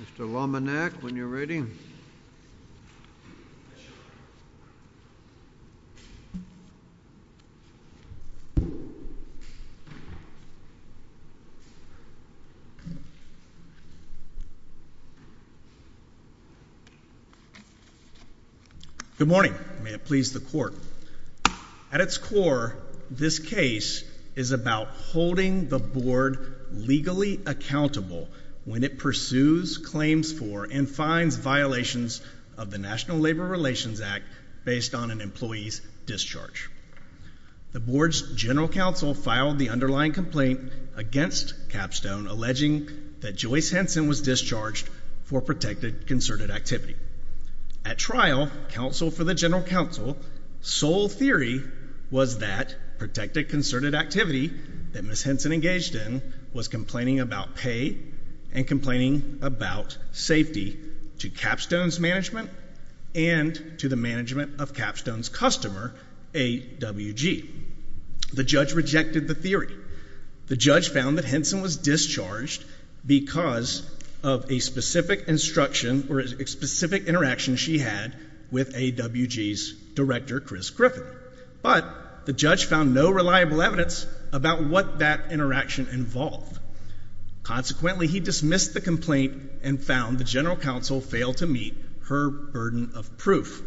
Mr. Lombanac, when you're ready. Good morning, may it please the court. At its core, this case is about holding the board legally accountable when it pursues claims for and fines violations of the National Labor Relations Act based on an employee's discharge. The board's general counsel filed the underlying complaint against Capstone alleging that Joyce Henson was discharged for protected concerted activity. At trial, counsel for the general counsel, sole theory was that protected concerted activity that Ms. Henson engaged in was complaining about pay and complaining about safety to Capstone's management and to the management of Capstone's customer, AWG. The judge rejected the theory. The judge found that Henson was discharged because of a specific instruction or a specific interaction she had with AWG's director, Chris Griffin. But the judge found no reliable evidence about what that interaction involved. Consequently, he dismissed the complaint and found the general counsel failed to meet her burden of proof.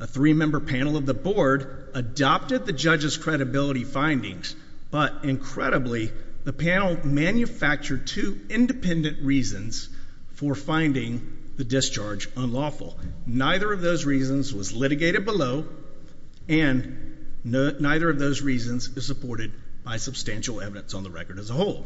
A three-member panel of the board adopted the judge's credibility findings, but incredibly, the panel manufactured two independent reasons for finding the discharge unlawful. Neither of those reasons was litigated below, and neither of those reasons is supported by substantial evidence on the record as a whole.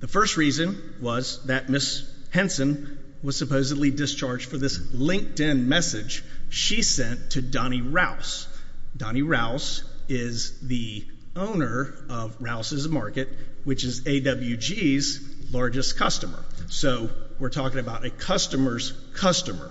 The first reason was that Ms. Henson was supposedly discharged for this LinkedIn message she sent to Donnie Rouse. Donnie Rouse is the owner of Rouse's Market, which is AWG's largest customer. So we're talking about a customer's customer.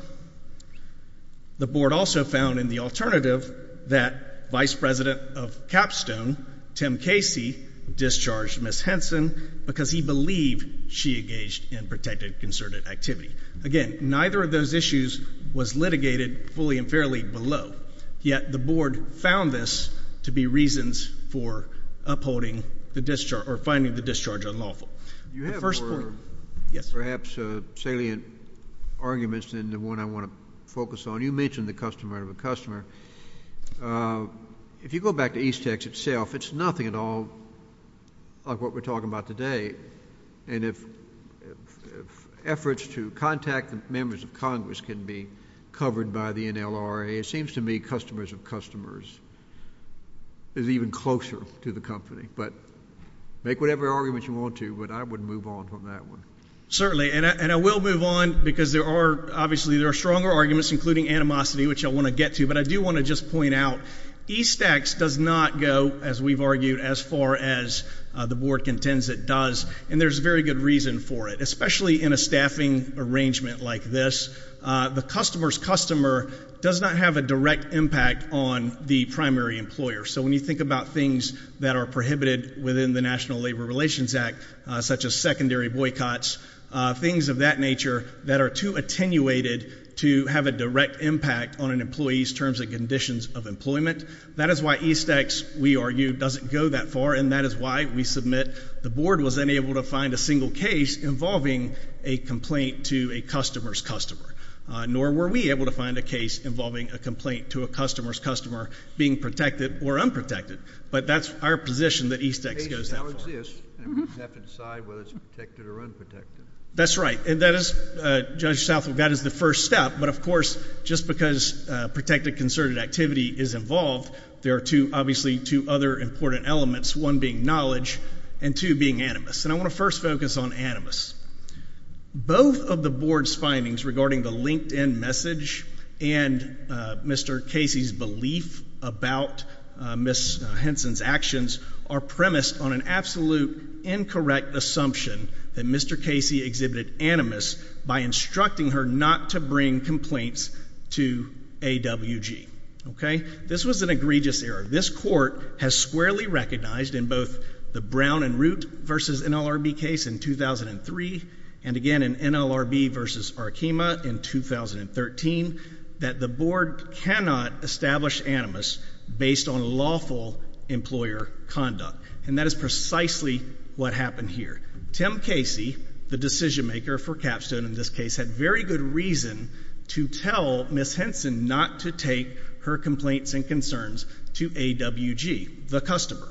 The board also found in the alternative that Vice President of Capstone, Tim Casey, discharged Ms. Henson because he believed she engaged in protected concerted activity. Again, neither of those issues was litigated fully and fairly below, yet the board found this to be reasons for upholding the discharge or finding the discharge unlawful. The first point— You have more, perhaps, salient arguments than the one I want to focus on. You mentioned the customer of a customer. If you go back to Eastex itself, it's nothing at all like what we're talking about today. And if efforts to contact the members of Congress can be covered by the NLRA, it seems to me customers of customers is even closer to the company. But make whatever arguments you want to, but I would move on from that one. Certainly, and I will move on because there are—obviously, there are stronger arguments, including animosity, which I want to get to. But I do want to just point out Eastex does not go, as we've argued, as far as the board contends it does, and there's very good reason for it, especially in a staffing arrangement like this. The customer's customer does not have a direct impact on the primary employer. So when you think about things that are prohibited within the National Labor Relations Act, such as secondary boycotts, things of that nature that are too attenuated to have a direct impact on an employee's terms and conditions of employment, that is why Eastex, we argue, doesn't go that far, and that is why we submit the board was unable to find a single case involving a complaint to a customer's customer, nor were we able to find a case involving a complaint to a customer's customer being protected or unprotected, but that's our position that Eastex goes that far. A case now exists, and we have to decide whether it's protected or unprotected. That's right, and that is, Judge Southwell, that is the first step, but of course, just because protected concerted activity is involved, there are two—obviously, two other important elements, one being knowledge and two being animus, and I want to first focus on animus. Both of the board's findings regarding the LinkedIn message and Mr. Casey's belief about Ms. Henson's actions are premised on an absolute incorrect assumption that Mr. Casey exhibited animus by instructing her not to bring complaints to AWG, okay? This was an egregious error. This court has squarely recognized in both the Brown and Root versus NLRB case in 2003 and again in NLRB versus Arkema in 2013 that the board cannot establish animus based on lawful employer conduct, and that is precisely what happened here. Tim Casey, the decision-maker for Capstone in this case, had very good reason to tell Ms. Henson not to take her complaints and concerns to AWG, the customer.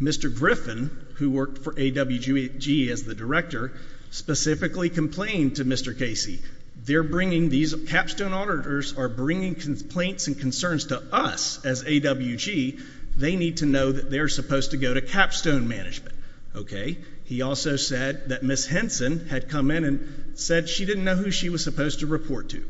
Mr. Griffin, who worked for AWG as the director, specifically complained to Mr. Casey, they're bringing—these Capstone auditors are bringing complaints and concerns to us as AWG. They need to know that they're supposed to go to Capstone management, okay? He also said that Ms. Henson had come in and said she didn't know who she was supposed to report to.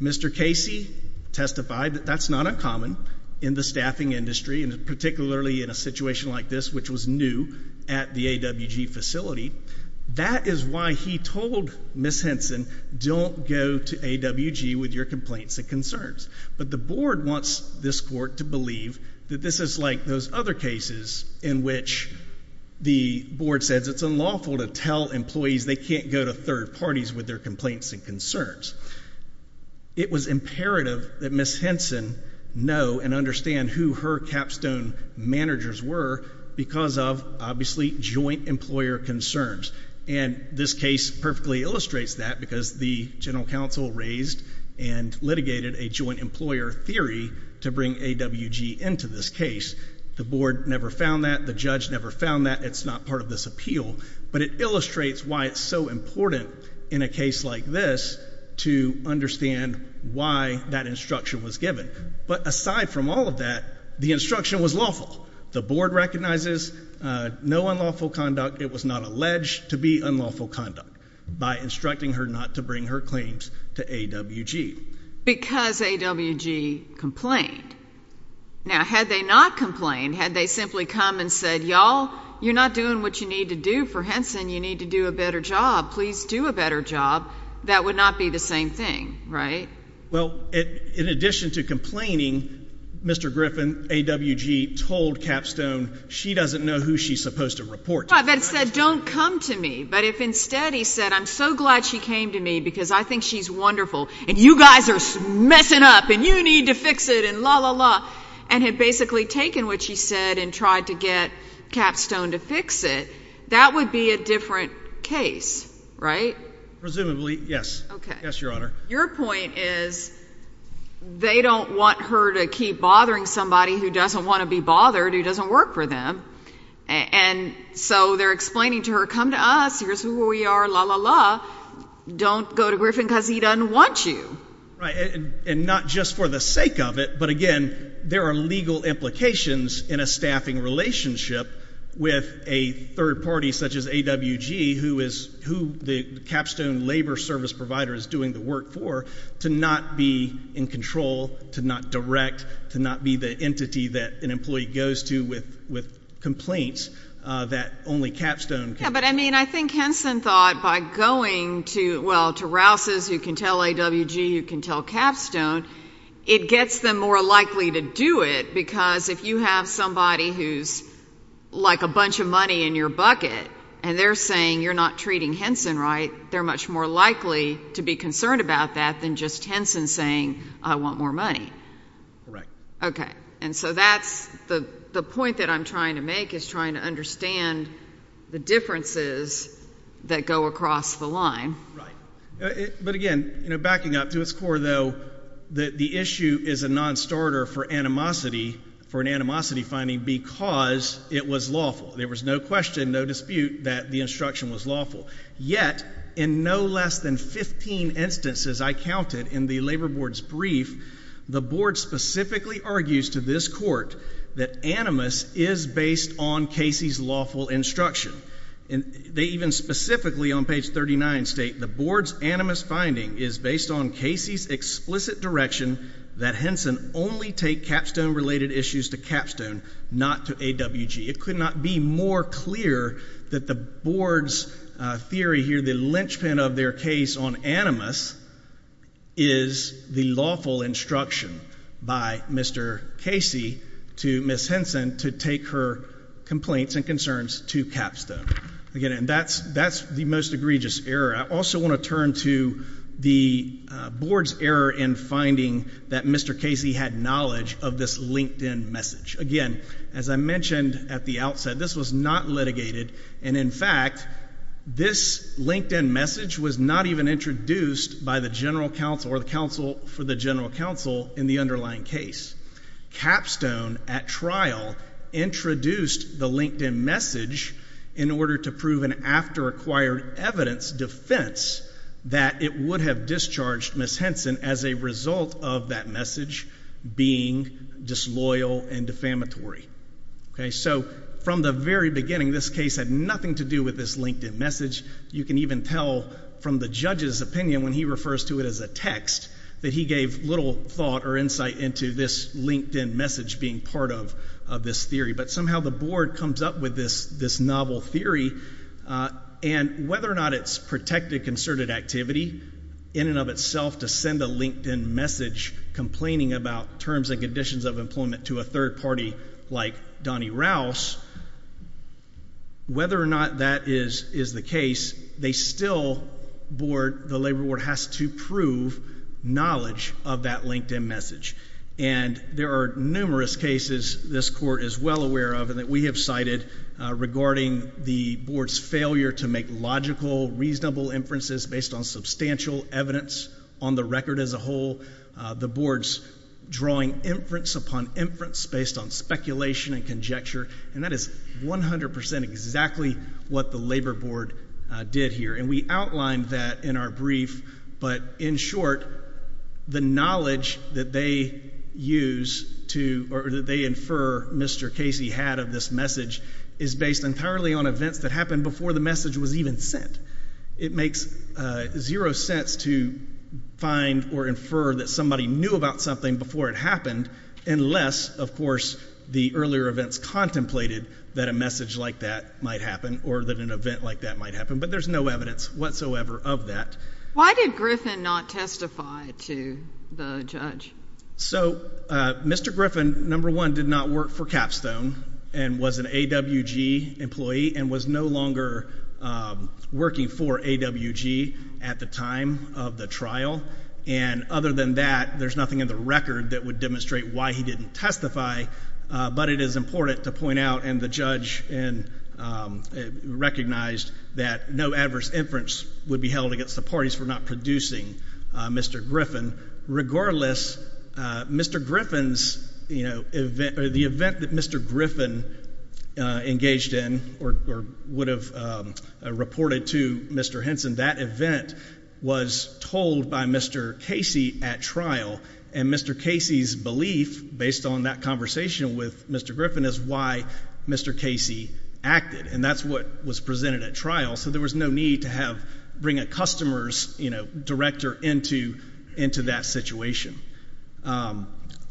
Mr. Casey testified that that's not uncommon in the staffing industry, and particularly in a situation like this, which was new at the AWG facility. That is why he told Ms. Henson, don't go to AWG with your complaints and concerns. But the board wants this court to believe that this is like those other cases in which the board says it's unlawful to tell employees they can't go to third parties with their concerns. It was imperative that Ms. Henson know and understand who her Capstone managers were because of, obviously, joint employer concerns. And this case perfectly illustrates that because the general counsel raised and litigated a joint employer theory to bring AWG into this case. The board never found that. The judge never found that. It's not part of this appeal. But it illustrates why it's so important in a case like this to understand why that instruction was given. But aside from all of that, the instruction was lawful. The board recognizes no unlawful conduct. It was not alleged to be unlawful conduct by instructing her not to bring her claims to AWG. Because AWG complained. Now had they not complained, had they simply come and said, y'all, you're not doing what you need to do for Henson. You need to do a better job. Please do a better job. That would not be the same thing, right? Well, in addition to complaining, Mr. Griffin, AWG, told Capstone she doesn't know who she's supposed to report to. Right. That said, don't come to me. But if instead he said, I'm so glad she came to me because I think she's wonderful and you guys are messing up and you need to fix it and la la la, and had basically taken what she said and tried to get Capstone to fix it, that would be a different case, right? Presumably. Yes. Okay. Yes, Your Honor. Your point is they don't want her to keep bothering somebody who doesn't want to be bothered, who doesn't work for them. And so they're explaining to her, come to us, here's who we are, la la la. Don't go to Griffin because he doesn't want you. Right. And not just for the sake of it, but again, there are legal implications in a staffing relationship with a third party such as AWG, who the Capstone labor service provider is doing the work for, to not be in control, to not direct, to not be the entity that an employee goes to with complaints that only Capstone can. Yeah, but I mean, I think Henson thought by going to, well, to Rouse's, who can tell AWG, who can tell Capstone, it gets them more likely to do it because if you have somebody who's like a bunch of money in your bucket and they're saying you're not treating Henson right, they're much more likely to be concerned about that than just Henson saying, I want more money. Correct. Okay. And so that's the point that I'm trying to make is trying to understand the differences that go across the line. Right. But again, you know, backing up to its core, though, that the issue is a non-starter for animosity, for an animosity finding because it was lawful. There was no question, no dispute that the instruction was lawful. Yet, in no less than 15 instances I counted in the labor board's brief, the board specifically argues to this court that animus is based on Casey's lawful instruction. And they even specifically on page 39 state, the board's animus finding is based on Casey's explicit direction that Henson only take Capstone related issues to Capstone, not to AWG. It could not be more clear that the board's theory here, the linchpin of their case on animus is the lawful instruction by Mr. Casey to Ms. Henson to take her complaints and concerns to Capstone. Again, and that's the most egregious error. I also want to turn to the board's error in finding that Mr. Casey had knowledge of this LinkedIn message. Again, as I mentioned at the outset, this was not litigated. And in fact, this LinkedIn message was not even introduced by the general counsel or the counsel for the general counsel in the underlying case. Capstone at trial introduced the LinkedIn message in order to prove an after-acquired evidence defense that it would have discharged Ms. Henson as a result of that message being disloyal and defamatory. Okay, so from the very beginning, this case had nothing to do with this LinkedIn message. You can even tell from the judge's opinion when he refers to it as a text that he gave little thought or insight into this LinkedIn message being part of this theory. But somehow the board comes up with this novel theory, and whether or not it's protected concerted activity in and of itself to send a LinkedIn message complaining about terms and conditions of employment to a third party like Donnie Rouse, whether or not that is the case, they still board—the labor board has to prove knowledge of that LinkedIn message. And there are numerous cases this Court is well aware of and that we have cited regarding the board's failure to make logical, reasonable inferences based on substantial evidence on the record as a whole, the board's drawing inference upon inference based on speculation and conjecture, and that is 100% exactly what the labor board did here. And we outlined that in our brief, but in short, the knowledge that they use to—or that they infer Mr. Casey had of this message is based entirely on events that happened before the message was even sent. It makes zero sense to find or infer that somebody knew about something before it happened unless, of course, the earlier events contemplated that a message like that might happen or that an event like that might happen. But there's no evidence whatsoever of that. Why did Griffin not testify to the judge? So Mr. Griffin, number one, did not work for Capstone and was an AWG employee and was no longer working for AWG at the time of the trial. And other than that, there's nothing in the record that would demonstrate why he didn't testify, but it is important to point out, and the judge recognized that no adverse inference would be held against the parties for not producing Mr. Griffin. Regardless, Mr. Griffin's—the event that Mr. Griffin engaged in or would have reported to Mr. Henson, that event was told by Mr. Casey at trial. And Mr. Casey's belief, based on that conversation with Mr. Griffin, is why Mr. Casey acted. And that's what was presented at trial. So there was no need to have—bring a customer's, you know, director into that situation.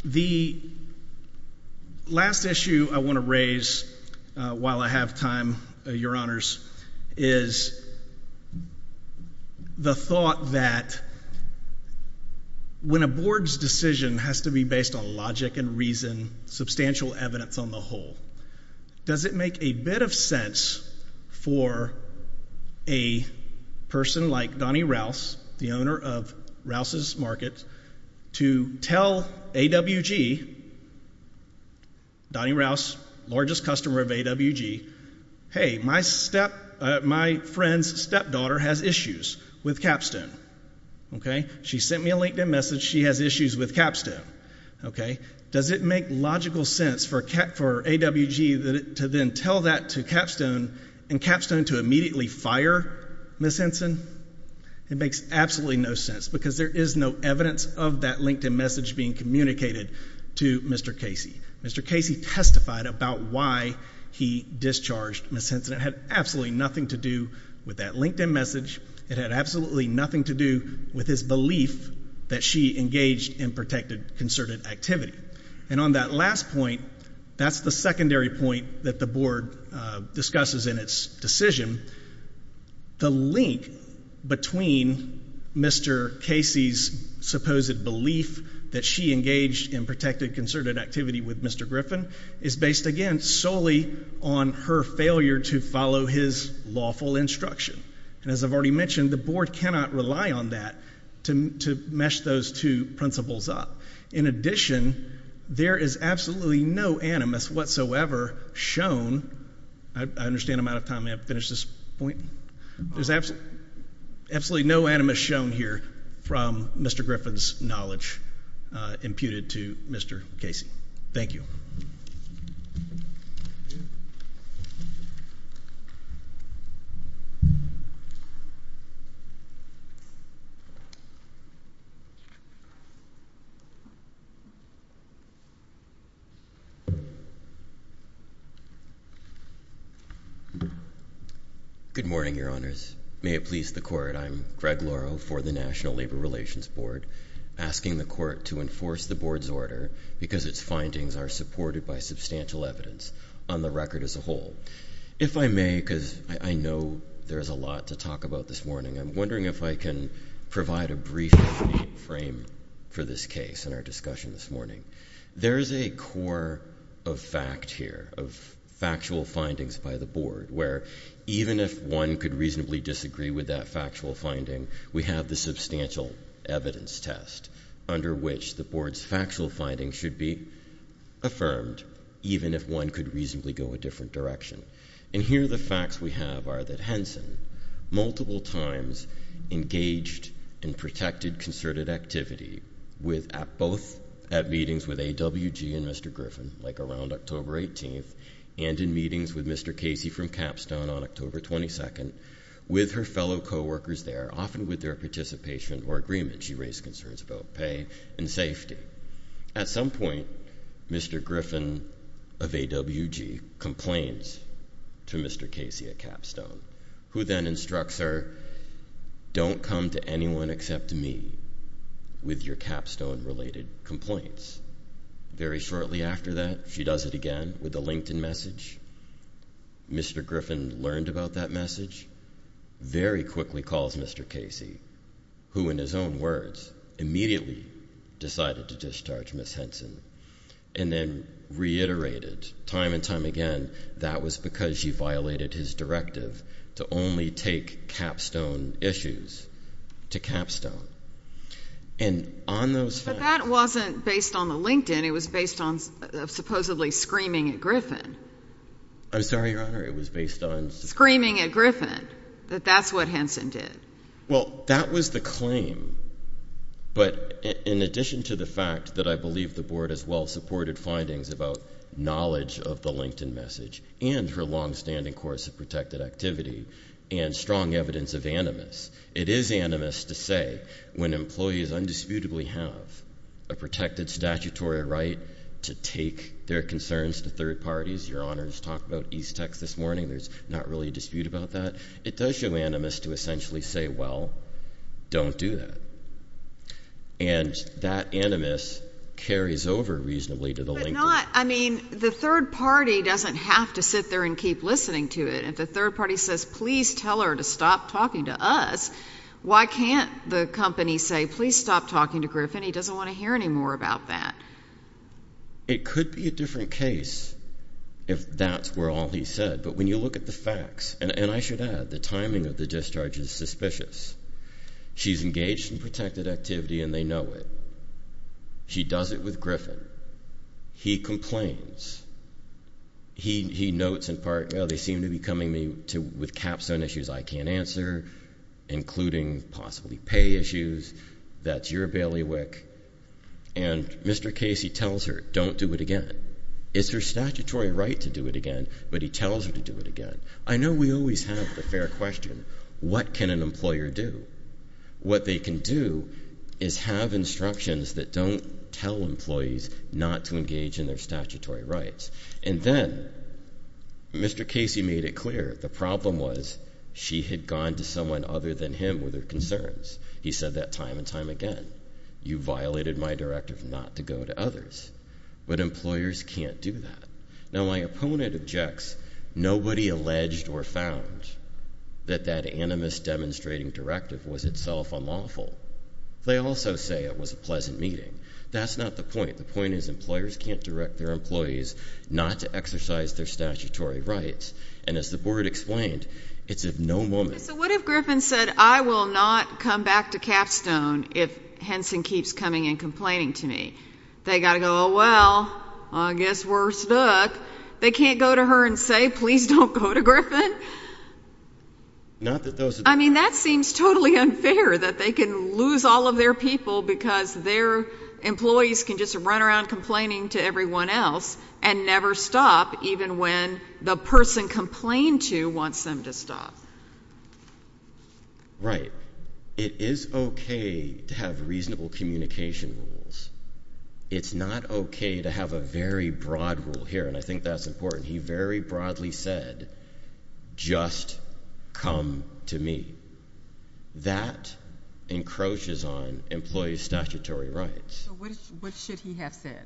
The last issue I want to raise while I have time, Your Honors, is the fact that Mr. Griffin is—the thought that when a board's decision has to be based on logic and reason, substantial evidence on the whole, does it make a bit of sense for a person like Donnie Rouse, the owner of Rouse's Market, to tell AWG—Donnie Rouse, largest customer of AWG—hey, my step—my friend's stepdaughter has issues with Capstone. Okay? She sent me a LinkedIn message. She has issues with Capstone. Okay? Does it make logical sense for AWG to then tell that to Capstone and Capstone to immediately fire Ms. Henson? It makes absolutely no sense because there is no evidence of that LinkedIn message being communicated to Mr. Casey. Mr. Casey testified about why he discharged Ms. Henson. It had absolutely nothing to do with that LinkedIn message. It had absolutely nothing to do with his belief that she engaged in protected concerted activity. And on that last point, that's the secondary point that the board discusses in its decision. The link between Mr. Casey's supposed belief that she engaged in protected concerted activity with Mr. Griffin is based, again, solely on her failure to follow his lawful instruction. And as I've already mentioned, the board cannot rely on that to mesh those two principles up. In addition, there is absolutely no animus whatsoever shown—I understand I'm out of time. May I finish this point? There's absolutely no animus shown here from Mr. Griffin's knowledge imputed to Mr. Casey. Thank you. Good morning, Your Honors. May it please the Court, I'm Greg Lauro for the National Labor Relations Board, asking the Court to enforce the board's order because its findings are supported by substantial evidence on the record as a whole. If I may, because I know there's a lot to talk about this morning, I'm wondering if I can provide a brief frame for this case in our discussion this morning. There is a core of fact here, of factual findings by the board, where even if one could reasonably disagree with that factual finding, we have the substantial evidence test under which the board's factual findings should be affirmed, even if one could reasonably go a different direction. And here the facts we have are that Henson multiple times engaged in protected concerted activity, both at meetings with AWG and Mr. Griffin, like around October 18th, and in meetings with Mr. Casey from Capstone on October 22nd, with her fellow co-workers there, often with their participation or agreement she raised concerns about pay and safety. At some point, Mr. Griffin of AWG complains to Mr. Casey at Capstone, who then instructs her, don't come to anyone except me with your Capstone related complaints. Very shortly after that, she does it again with a LinkedIn message. Mr. Griffin learned about that message, very quickly calls Mr. Casey, who in his own words immediately decided to discharge Ms. Henson, and then reiterated time and time again that was because she violated his directive to only take Capstone issues to Capstone. And on those phone calls... I'm sorry, Your Honor, it was based on... Screaming at Griffin that that's what Henson did. Well, that was the claim, but in addition to the fact that I believe the Board as well supported findings about knowledge of the LinkedIn message, and her long-standing course of protected activity, and strong evidence of animus, it is animus to say when employees undisputably have a protected statutory right to take their concerns to third parties. Your Honor just talked about East Texas this morning, there's not really a dispute about that. It does show animus to essentially say, well, don't do that. And that animus carries over reasonably to the LinkedIn... But not, I mean, the third party doesn't have to sit there and keep listening to it. If the third party says, please tell her to stop talking to us, why can't the company say, please stop talking to Griffin? He doesn't want to hear any more about that. It could be a different case if that's where all he said. But when you look at the facts, and I should add, the timing of the discharge is suspicious. She's engaged in protected activity and they know it. She does it with Griffin. He complains. He notes in part, well, they seem to be coming to me with Capstone issues I can't answer, including possibly pay issues. That's your bailiwick. And Mr. Casey tells her, don't do it again. It's her statutory right to do it again, but he tells her to do it again. I know we always have the fair question, what can an employer do? What they can do is have instructions that don't tell employees not to engage in their statutory rights. And then Mr. Casey made it clear the problem was she had gone to someone other than him with her concerns. He said that time and time again. You violated my directive not to go to others. But employers can't do that. Now my opponent objects, nobody alleged or found that that animus demonstrating directive was itself unlawful. They also say it was a pleasant meeting. That's not the point. The point is employers can't direct their employees not to exercise their statutory rights. And as the board explained, it's of no moment. So what if Griffin said, I will not come back to Capstone if Henson keeps coming and complaining to me. They got to go, oh, well, I guess we're stuck. They can't go to her and say, please don't go to Griffin. Not that those. I mean, that seems totally unfair that they can lose all of their people because their employees can just run around complaining to everyone else and never stop even when the person complained to wants them to stop. Right. It is okay to have reasonable communication rules. It's not okay to have a very broad rule here. And I think that's important. He very broadly said, just come to me. That encroaches on employee statutory rights. What should he have said?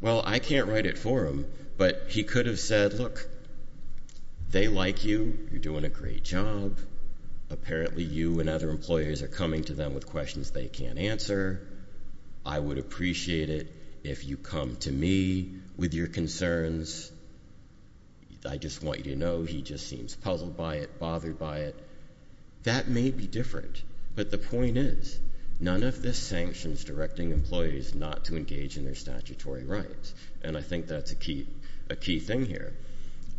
Well, I can't write it for him, but he could have said, look, they like you. You're doing a great job. Apparently you and other employers are coming to them with questions they can't answer. I would appreciate it if you come to me with your concerns. I just want you to know he just seems puzzled by it, bothered by it. That may be different, but the point is none of this sanctions directing employees not to engage in their statutory rights. And I think that's a key thing here.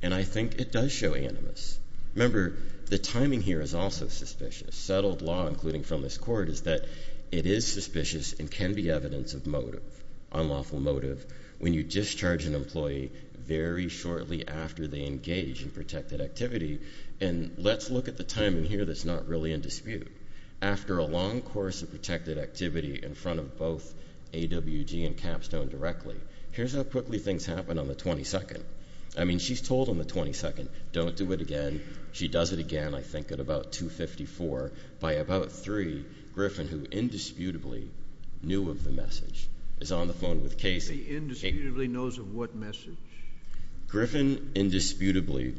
And I think it does show animus. Remember, the timing here is also suspicious. Settled law, including from this court, is that it is suspicious and can be evidence of motive, unlawful motive, when you discharge an employee very shortly after they engage in protected activity. And let's look at the timing here that's not really in dispute. After a long course of protected activity in front of both AWG and Capstone directly, here's how quickly things happen on the 22nd. I mean, she's told on the 22nd, don't do it again. She does it again, I think, at about 2.54. By about 3, Griffin, who indisputably knew of the message, is on the phone with Casey. He indisputably knows of what message? Griffin indisputably,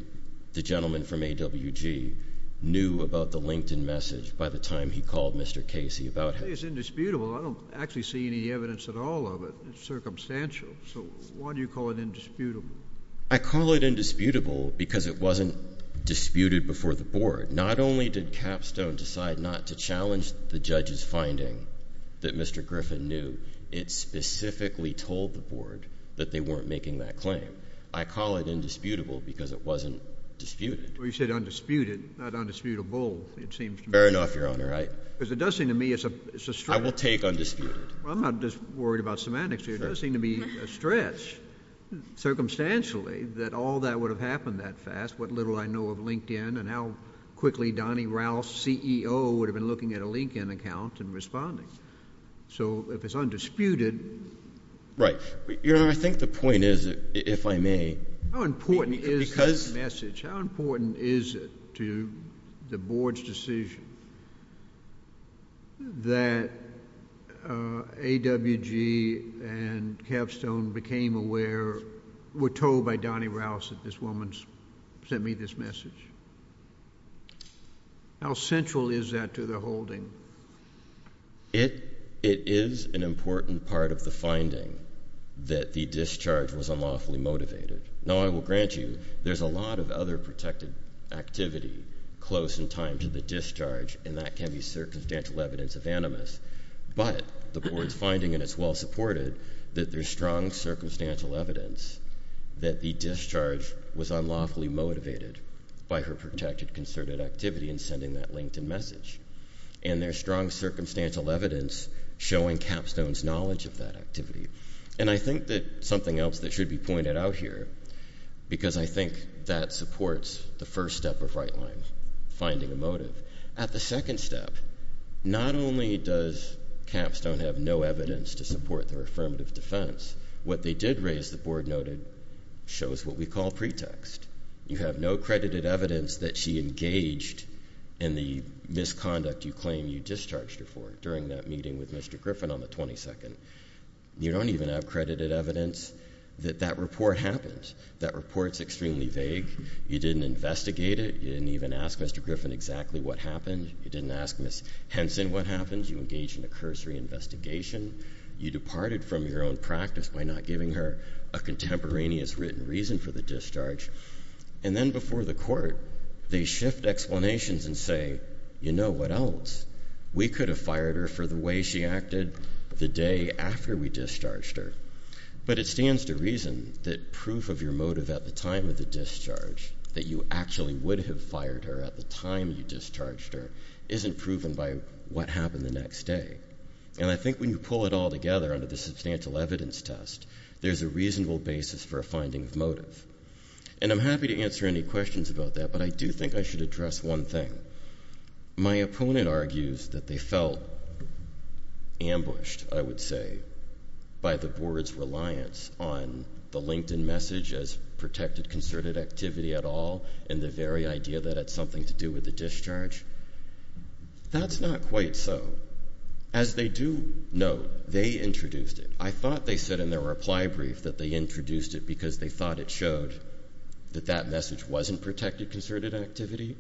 the gentleman from AWG, knew about the LinkedIn message by the time he called Mr. Casey about how— It's indisputable. I don't actually see any evidence at all of it. It's circumstantial. So why do you call it indisputable? I call it indisputable because it wasn't disputed before the board. Not only did Capstone decide not to challenge the judge's finding that Mr. Griffin knew, it specifically told the board that they weren't making that claim. I call it indisputable because it wasn't disputed. Well, you said undisputed, not undisputable, it seems to me. Fair enough, Your Honor. Because it does seem to me it's a stretch. I will take undisputed. Well, I'm not just worried about semantics here. It does seem to me a stretch, circumstantially, that all that would have happened that fast, what little I know of LinkedIn and how quickly Donnie Ralph, CEO, would have been looking at a LinkedIn account and responding. So if it's undisputed— Right. Your Honor, I think the point is, if I may— How important is this message? How important is it to the board's decision that AWG and Capstone became aware, were told by Donnie Ralph that this woman sent me this message? How central is that to the holding? It is an important part of the finding that the discharge was unlawfully motivated. Now, I will grant you there's a lot of other protected activity close in time to the discharge, and that can be circumstantial evidence of animus. But the board's finding, and it's well-supported, that there's strong circumstantial evidence that the discharge was unlawfully motivated by her protected, concerted activity in sending that LinkedIn message. And there's strong circumstantial evidence showing Capstone's knowledge of that activity. And I think that something else that should be pointed out here, because I think that supports the first step of right line, finding a motive. At the second step, not only does Capstone have no evidence to support their affirmative defense, what they did raise, the board noted, shows what we call pretext. You have no credited evidence that she engaged in the misconduct you claim you discharged her for during that meeting with Mr. Griffin on the 22nd. You don't even have credited evidence that that report happened. That report's extremely vague. You didn't investigate it. You didn't even ask Mr. Griffin exactly what happened. You didn't ask Ms. Henson what happened. You engaged in a cursory investigation. You departed from your own practice by not giving her a contemporaneous written reason for the discharge. And then before the court, they shift explanations and say, you know what else? We could have fired her for the way she acted the day after we discharged her. But it stands to reason that proof of your motive at the time of the discharge, that you actually would have fired her at the time you discharged her, isn't proven by what happened the next day. And I think when you pull it all together under the substantial evidence test, there's a reasonable basis for a finding of motive. And I'm happy to answer any questions about that, but I do think I should address one thing. My opponent argues that they felt ambushed, I would say, by the board's reliance on the LinkedIn message as protected concerted activity at all and the very idea that it's something to do with the discharge. That's not quite so. As they do note, they introduced it. I thought they said in their reply brief that they introduced it because they thought it showed that that message wasn't protected concerted activity.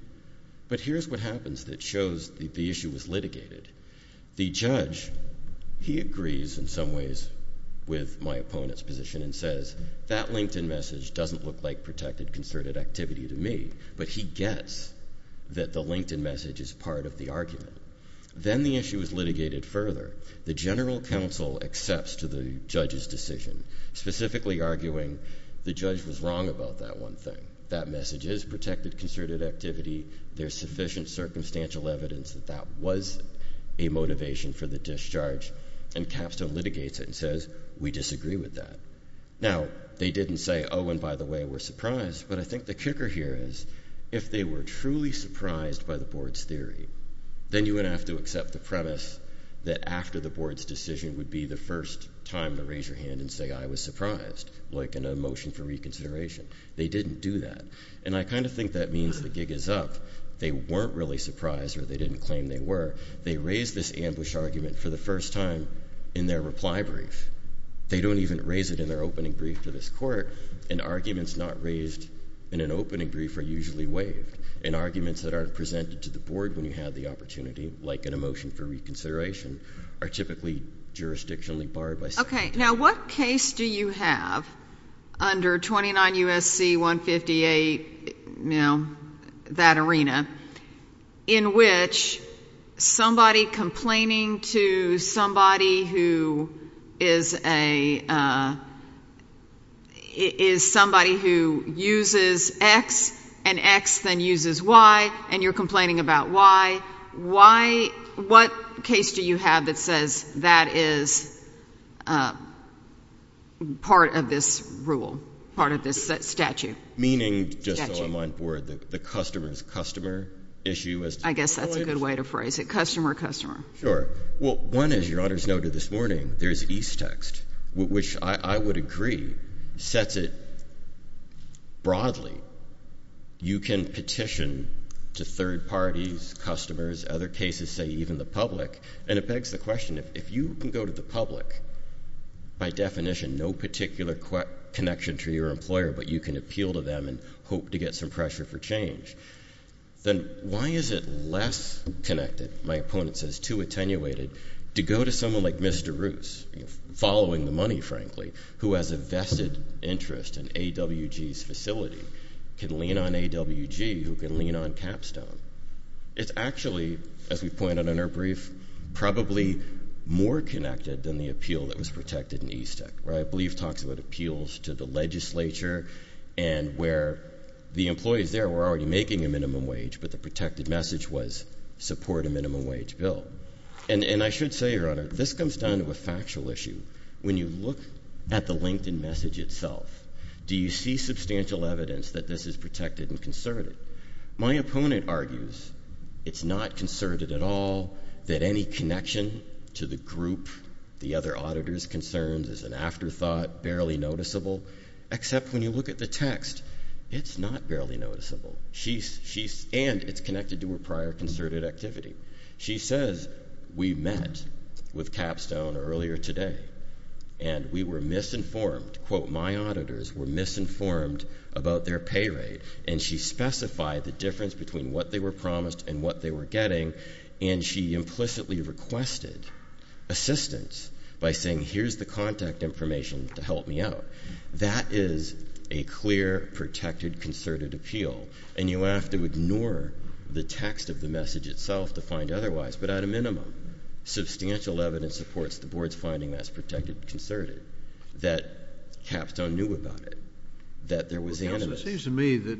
But here's what happens that shows the issue was litigated. The judge, he agrees in some ways with my opponent's position and says, that LinkedIn message doesn't look like protected concerted activity to me. But he gets that the LinkedIn message is part of the argument. Then the issue is litigated further. The general counsel accepts to the judge's decision, specifically arguing the judge was wrong about that one thing. That message is protected concerted activity. There's sufficient circumstantial evidence that that was a motivation for the discharge and Capstone litigates it and says, we disagree with that. Now, they didn't say, oh, and by the way, we're surprised. But I think the kicker here is if they were truly surprised by the board's theory, then you would have to accept the premise that after the board's decision would be the first time to raise your hand and say, I was surprised, like in a motion for reconsideration. They didn't do that. And I kind of think that means the gig is up. They weren't really surprised or they didn't claim they were. They raised this ambush argument for the first time in their reply brief. They don't even raise it in their opening brief to this court. And arguments not raised in an opening brief are usually waived. And arguments that aren't presented to the board when you have the opportunity, like in a motion for reconsideration, are typically jurisdictionally barred by statute. Okay. Now, what case do you have under 29 U.S.C. 158, you know, that arena, in which somebody complaining to somebody who is a, is somebody who uses X and X is not X and X then uses Y, and you're complaining about Y. Why, what case do you have that says that is part of this rule, part of this statute? Meaning just so I'm on board, the customer's customer issue as to the quality of? I guess that's a good way to phrase it. Customer, customer. Sure. Well, one, as Your Honor's noted this morning, there's East text, which I would agree, sets it broadly. You can petition to third parties, customers, other cases, say even the public, and it begs the question, if you can go to the public, by definition no particular connection to your employer, but you can appeal to them and hope to get some pressure for change, then why is it less connected, my opponent says, too attenuated, to go to someone like Mr. Roos, following the money, frankly, who has a vested interest in AWG's facility, can lean on AWG, who can lean on Capstone. It's actually, as we've pointed in our brief, probably more connected than the appeal that was protected in East Act, where I believe talks about appeals to the legislature and where the employees there were already making a minimum wage, but the protected message was support a minimum wage bill. And I should say, Your Honor, this comes down to a factual issue. When you look at the LinkedIn message itself, do you see substantial evidence that this is protected and concerted? My opponent argues it's not concerted at all, that any connection to the group, the other auditor's concerns, is an afterthought, barely noticeable, except when you look at the text, it's not barely noticeable. She's, and it's connected to her prior concerted activity. She says, we met with Capstone earlier today, and we were misinformed, quote, my auditors were misinformed about their pay rate, and she specified the difference between what they were promised and what they were getting, and she implicitly requested assistance by saying here's the contact information to help me out. That is a clear, protected, concerted appeal, and you have to ignore the text of the message itself to find otherwise, but at a minimum, substantial evidence supports the board's finding that's protected and concerted, that Capstone knew about it, that there was animus. It seems to me that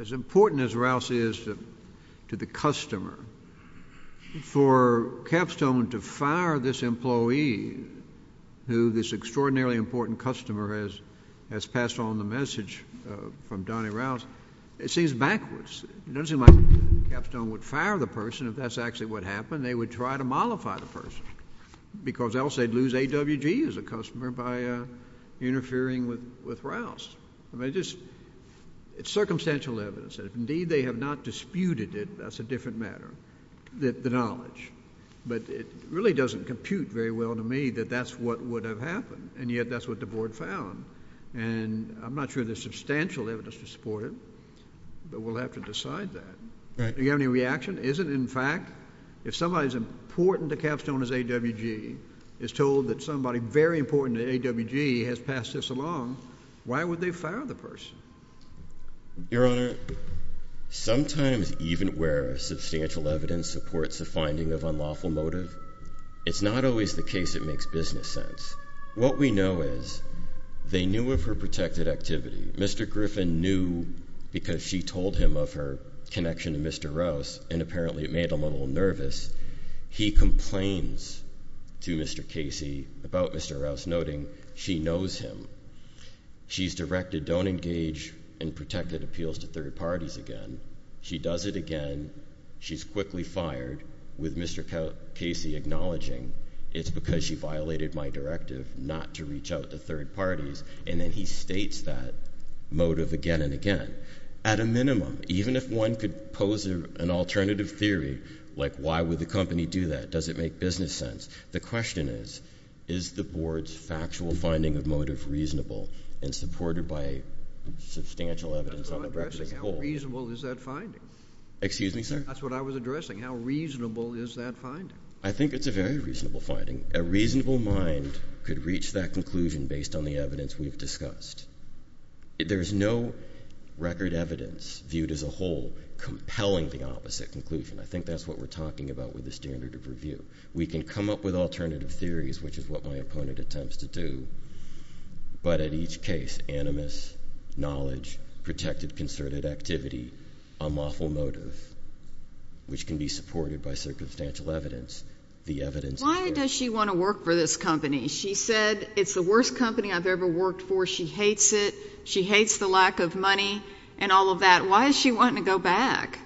as important as Rouse is to the customer, for Capstone to fire this employee who this extraordinarily important customer has passed on the message from Donnie Rouse, it seems backwards. It doesn't seem like Capstone would fire the person if that's actually what happened. They would try to mollify the person, because else they'd lose AWG as a customer by interfering with Rouse. I mean, it's just, it's circumstantial evidence, and if indeed they have not disputed it, that's a different matter, the knowledge, but it really doesn't compute very well to me that that's what would have happened, and yet that's what the board found, and I'm not sure there's substantial evidence to support it, but we'll have to decide that. Do you have any reaction? Is it, in fact, if somebody as important to Capstone as AWG is told that somebody very important to AWG has passed this along, why would they fire the person? Your Honor, sometimes even where substantial evidence supports a finding of unlawful motive, it's not always the case it makes business sense. What we know is they knew of her protected activity. Mr. Griffin knew because she told him of her connection to Mr. Rouse, and apparently it made him a little nervous. He complains to Mr. Casey about Mr. Rouse, noting she knows him. She's directed, don't engage in protected appeals to third parties again. She does it again. She's quickly fired, with Mr. Casey acknowledging it's because she violated my directive not to reach out to third parties, and then he states that motive again and again. At a minimum, even if one could pose an alternative theory, like why would the company do that? Does it make business sense? The question is, is the board's factual finding of motive reasonable and supported by substantial evidence on the record? How reasonable is that finding? Excuse me, sir? That's what I was addressing. How reasonable is that finding? I think it's a very reasonable finding. A reasonable mind could reach that conclusion based on the evidence we've discussed. There's no record evidence viewed as a whole compelling the opposite conclusion. I think that's what we're talking about with the standard of review. We can come up with alternative theories, which is what my opponent attempts to do, but at each case, animus, knowledge, protected concerted activity, a moffle motive, which can be supported by circumstantial evidence. Why does she want to work for this company? She said, it's the worst company I've ever worked for. She hates it. She hates the lack of money and all of that. Why is she wanting to go back?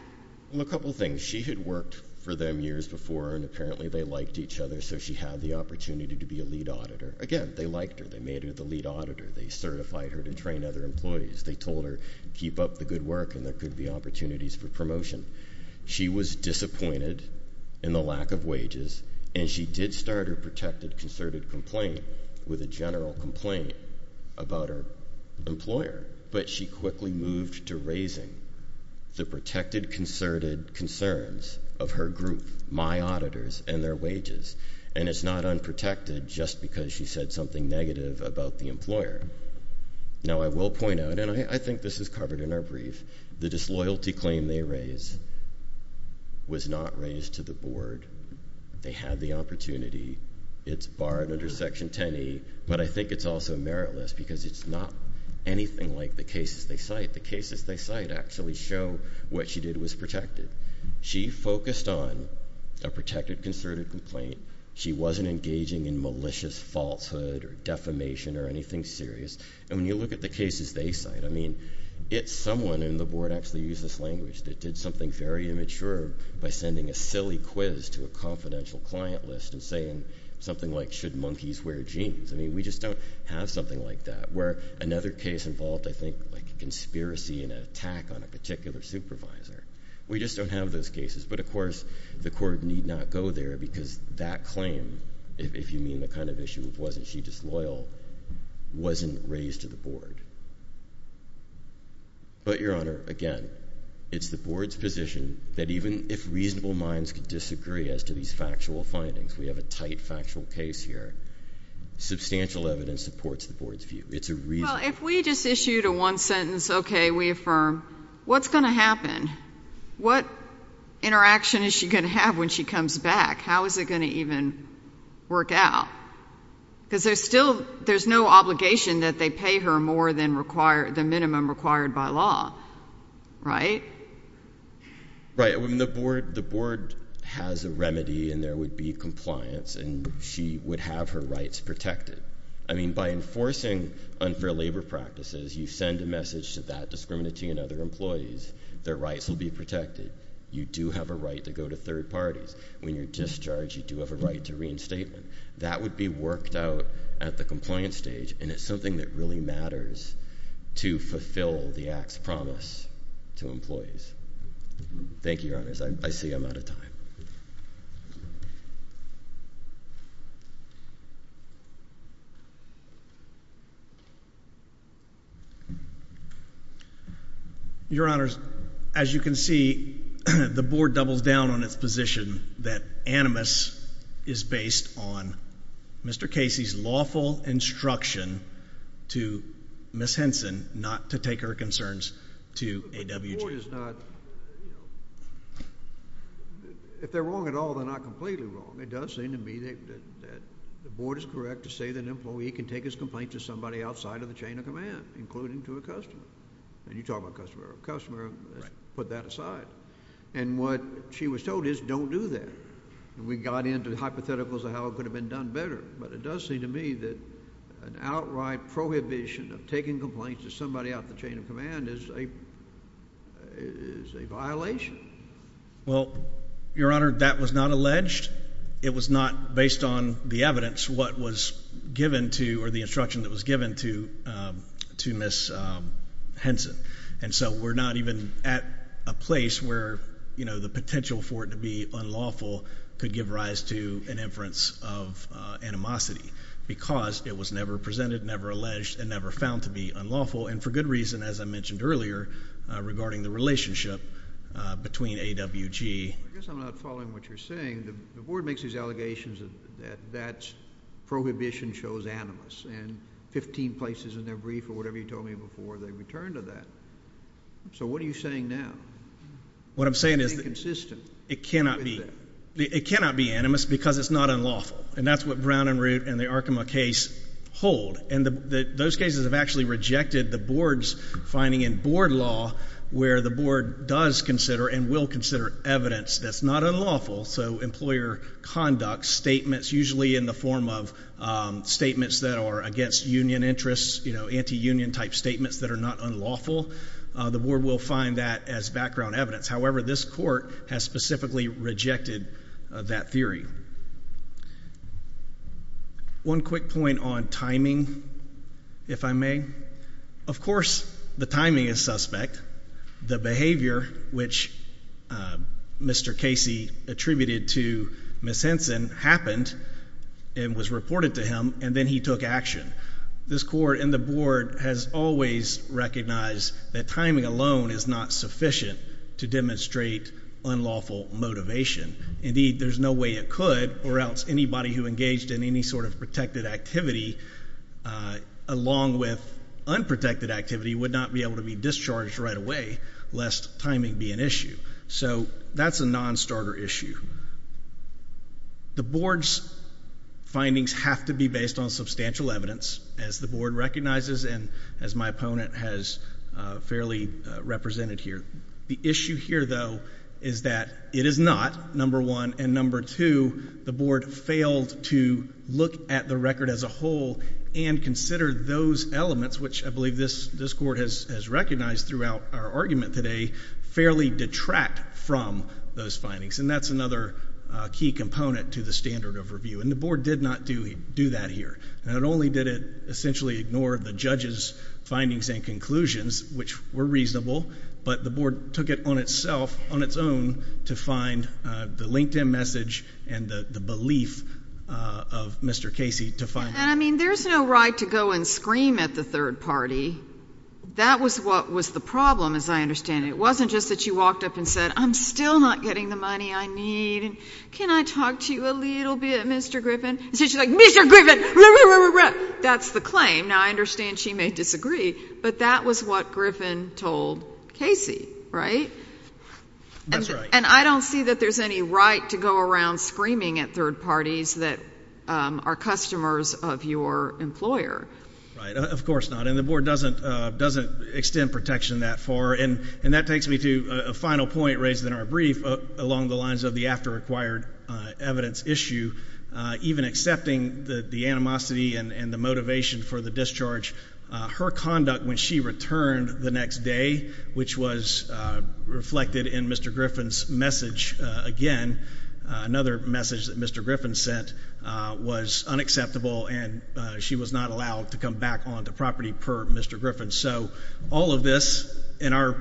A couple of things. She had worked for them years before, and apparently they liked each other, so she had the opportunity to be a lead auditor. Again, they liked her. They made her the lead auditor. They certified her to train other employees. They told her, keep up the good work, and there could be opportunities for promotion. She was disappointed in the lack of wages, and she did start her protected concerted complaint with a general complaint about her employer, but she quickly moved to raising the protected concerted concerns of her group, my auditors, and their wages, and it's not unprotected just because she said something negative about the employer. Now, I will point out, and I think this is covered in our brief, the disloyalty claim they raised was not raised to the board. They had the opportunity. It's barred under Section 10E, but I think it's also meritless because it's not anything like the cases they cite. Actually show what she did was protected. She focused on a protected concerted complaint. She wasn't engaging in malicious falsehood or defamation or anything serious, and when you look at the cases they cite, I mean, it's someone in the board actually used this language that did something very immature by sending a silly quiz to a confidential client list and saying something like, should monkeys wear jeans? I mean, we just don't have something like that, where another case involved, I think, like a conspiracy and an attack on a particular supervisor. We just don't have those cases, but of course the court need not go there because that claim, if you mean the kind of issue of wasn't she disloyal, wasn't raised to the board. But, Your Honor, again, it's the board's position that even if reasonable minds could disagree as to these factual findings, we have a tight factual case here, substantial evidence supports the board's view. Well, if we just issued a one sentence, okay, we affirm, what's going to happen? What interaction is she going to have when she comes back? How is it going to even work out? Because there's still, there's no obligation that they pay her more than the minimum required by law, right? Right. The board has a remedy, and there would be compliance, and she would have her rights protected. I mean, by enforcing unfair labor practices, you send a message to that discriminatory and other employees, their rights will be protected. You do have a right to go to third parties. When you're discharged, you do have a right to reinstatement. That would be worked out at the compliance stage, and it's something that really matters to fulfill the Act's promise to employees. Thank you, Your Honors. I see I'm out of time. Your Honors, as you can see, the board doubles down on its position that Animus is based on Mr. Casey's lawful instruction to Ms. Henson not to take her concerns to AWG. Which is not, you know, if they're wrong at all, they're not completely wrong. It does seem to me that the board is correct to say that an employee can take his complaints to somebody outside of the chain of command, including to a customer. And you talk about customer. A customer, put that aside. And what she was told is don't do that. We got into hypotheticals of how it could have been done better, but it does seem to me that an outright prohibition of taking complaints to somebody out of the chain of command is a violation. Well, Your Honor, that was not alleged. It was not based on the evidence what was given to or the instruction that was given to Ms. Henson. And so we're not even at a place where, you know, the potential for it to be unlawful could give rise to an inference of animosity because it was never presented, never alleged, and never found to be unlawful. And for good reason, as I mentioned earlier, regarding the relationship between AWG. I guess I'm not following what you're saying. The board makes these allegations that that prohibition shows animus. And 15 places in their brief or whatever you told me before, they return to that. So what are you saying now? What I'm saying is that it cannot be animus because it's not unlawful. And that's what Brown and Root and the Arkema case hold. And those cases have actually rejected the board's finding in board law where the board does consider and will consider evidence that's not unlawful. So employer conduct statements, usually in the form of statements that are against union interests, you know, anti-union type statements that are not unlawful. The board will find that as background evidence. However, this court has specifically rejected that theory. One quick point on timing, if I may. Of course, the timing is suspect. The behavior, which Mr. Casey attributed to Ms. Henson, happened and was reported to him, and then he took action. This court and the board has always recognized that timing alone is not sufficient to demonstrate unlawful motivation. Indeed, there's no way it could, or else anybody who engaged in any sort of protected activity, along with unprotected activity, would not be able to be discharged right away, lest timing be an issue. So that's a nonstarter issue. The board's findings have to be based on substantial evidence, as the board recognizes and as my opponent has fairly represented here. The issue here, though, is that it is not, number one. And number two, the board failed to look at the record as a whole and consider those elements, which I believe this court has recognized throughout our argument today, fairly detract from those findings. And that's another key component to the standard of review. And the board did not do that here. Not only did it essentially ignore the judge's findings and conclusions, which were reasonable, but the board took it on itself, on its own, to find the LinkedIn message and the belief of Mr. Casey to find that. And, I mean, there's no right to go and scream at the third party. That was what was the problem, as I understand it. It wasn't just that you walked up and said, I'm still not getting the money I need, and can I talk to you a little bit, Mr. Griffin? Instead, you're like, Mr. Griffin! That's the claim. Now, I understand she may disagree, but that was what Griffin told Casey, right? And I don't see that there's any right to go around screaming at third parties that are customers of your employer. Right. Of course not. And the board doesn't extend protection that far. And that takes me to a final point raised in our brief along the lines of the after-acquired evidence issue. Even accepting the animosity and the motivation for the discharge, her conduct when she returned the next day, which was reflected in Mr. Griffin's message, again, another message that Mr. Griffin sent, was unacceptable, and she was not allowed to come back onto property per Mr. Griffin. And so all of this in our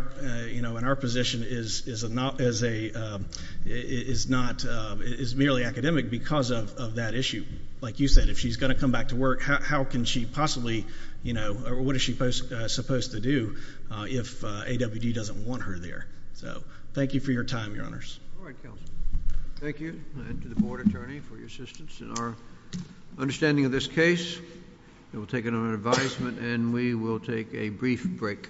position is merely academic because of that issue. Like you said, if she's going to come back to work, how can she possibly, you know, what is she supposed to do if AWD doesn't want her there? So thank you for your time, Your Honors. All right, counsel. Thank you. And to the board attorney for your assistance in our understanding of this case. We'll take it on advisement and we will take a brief break.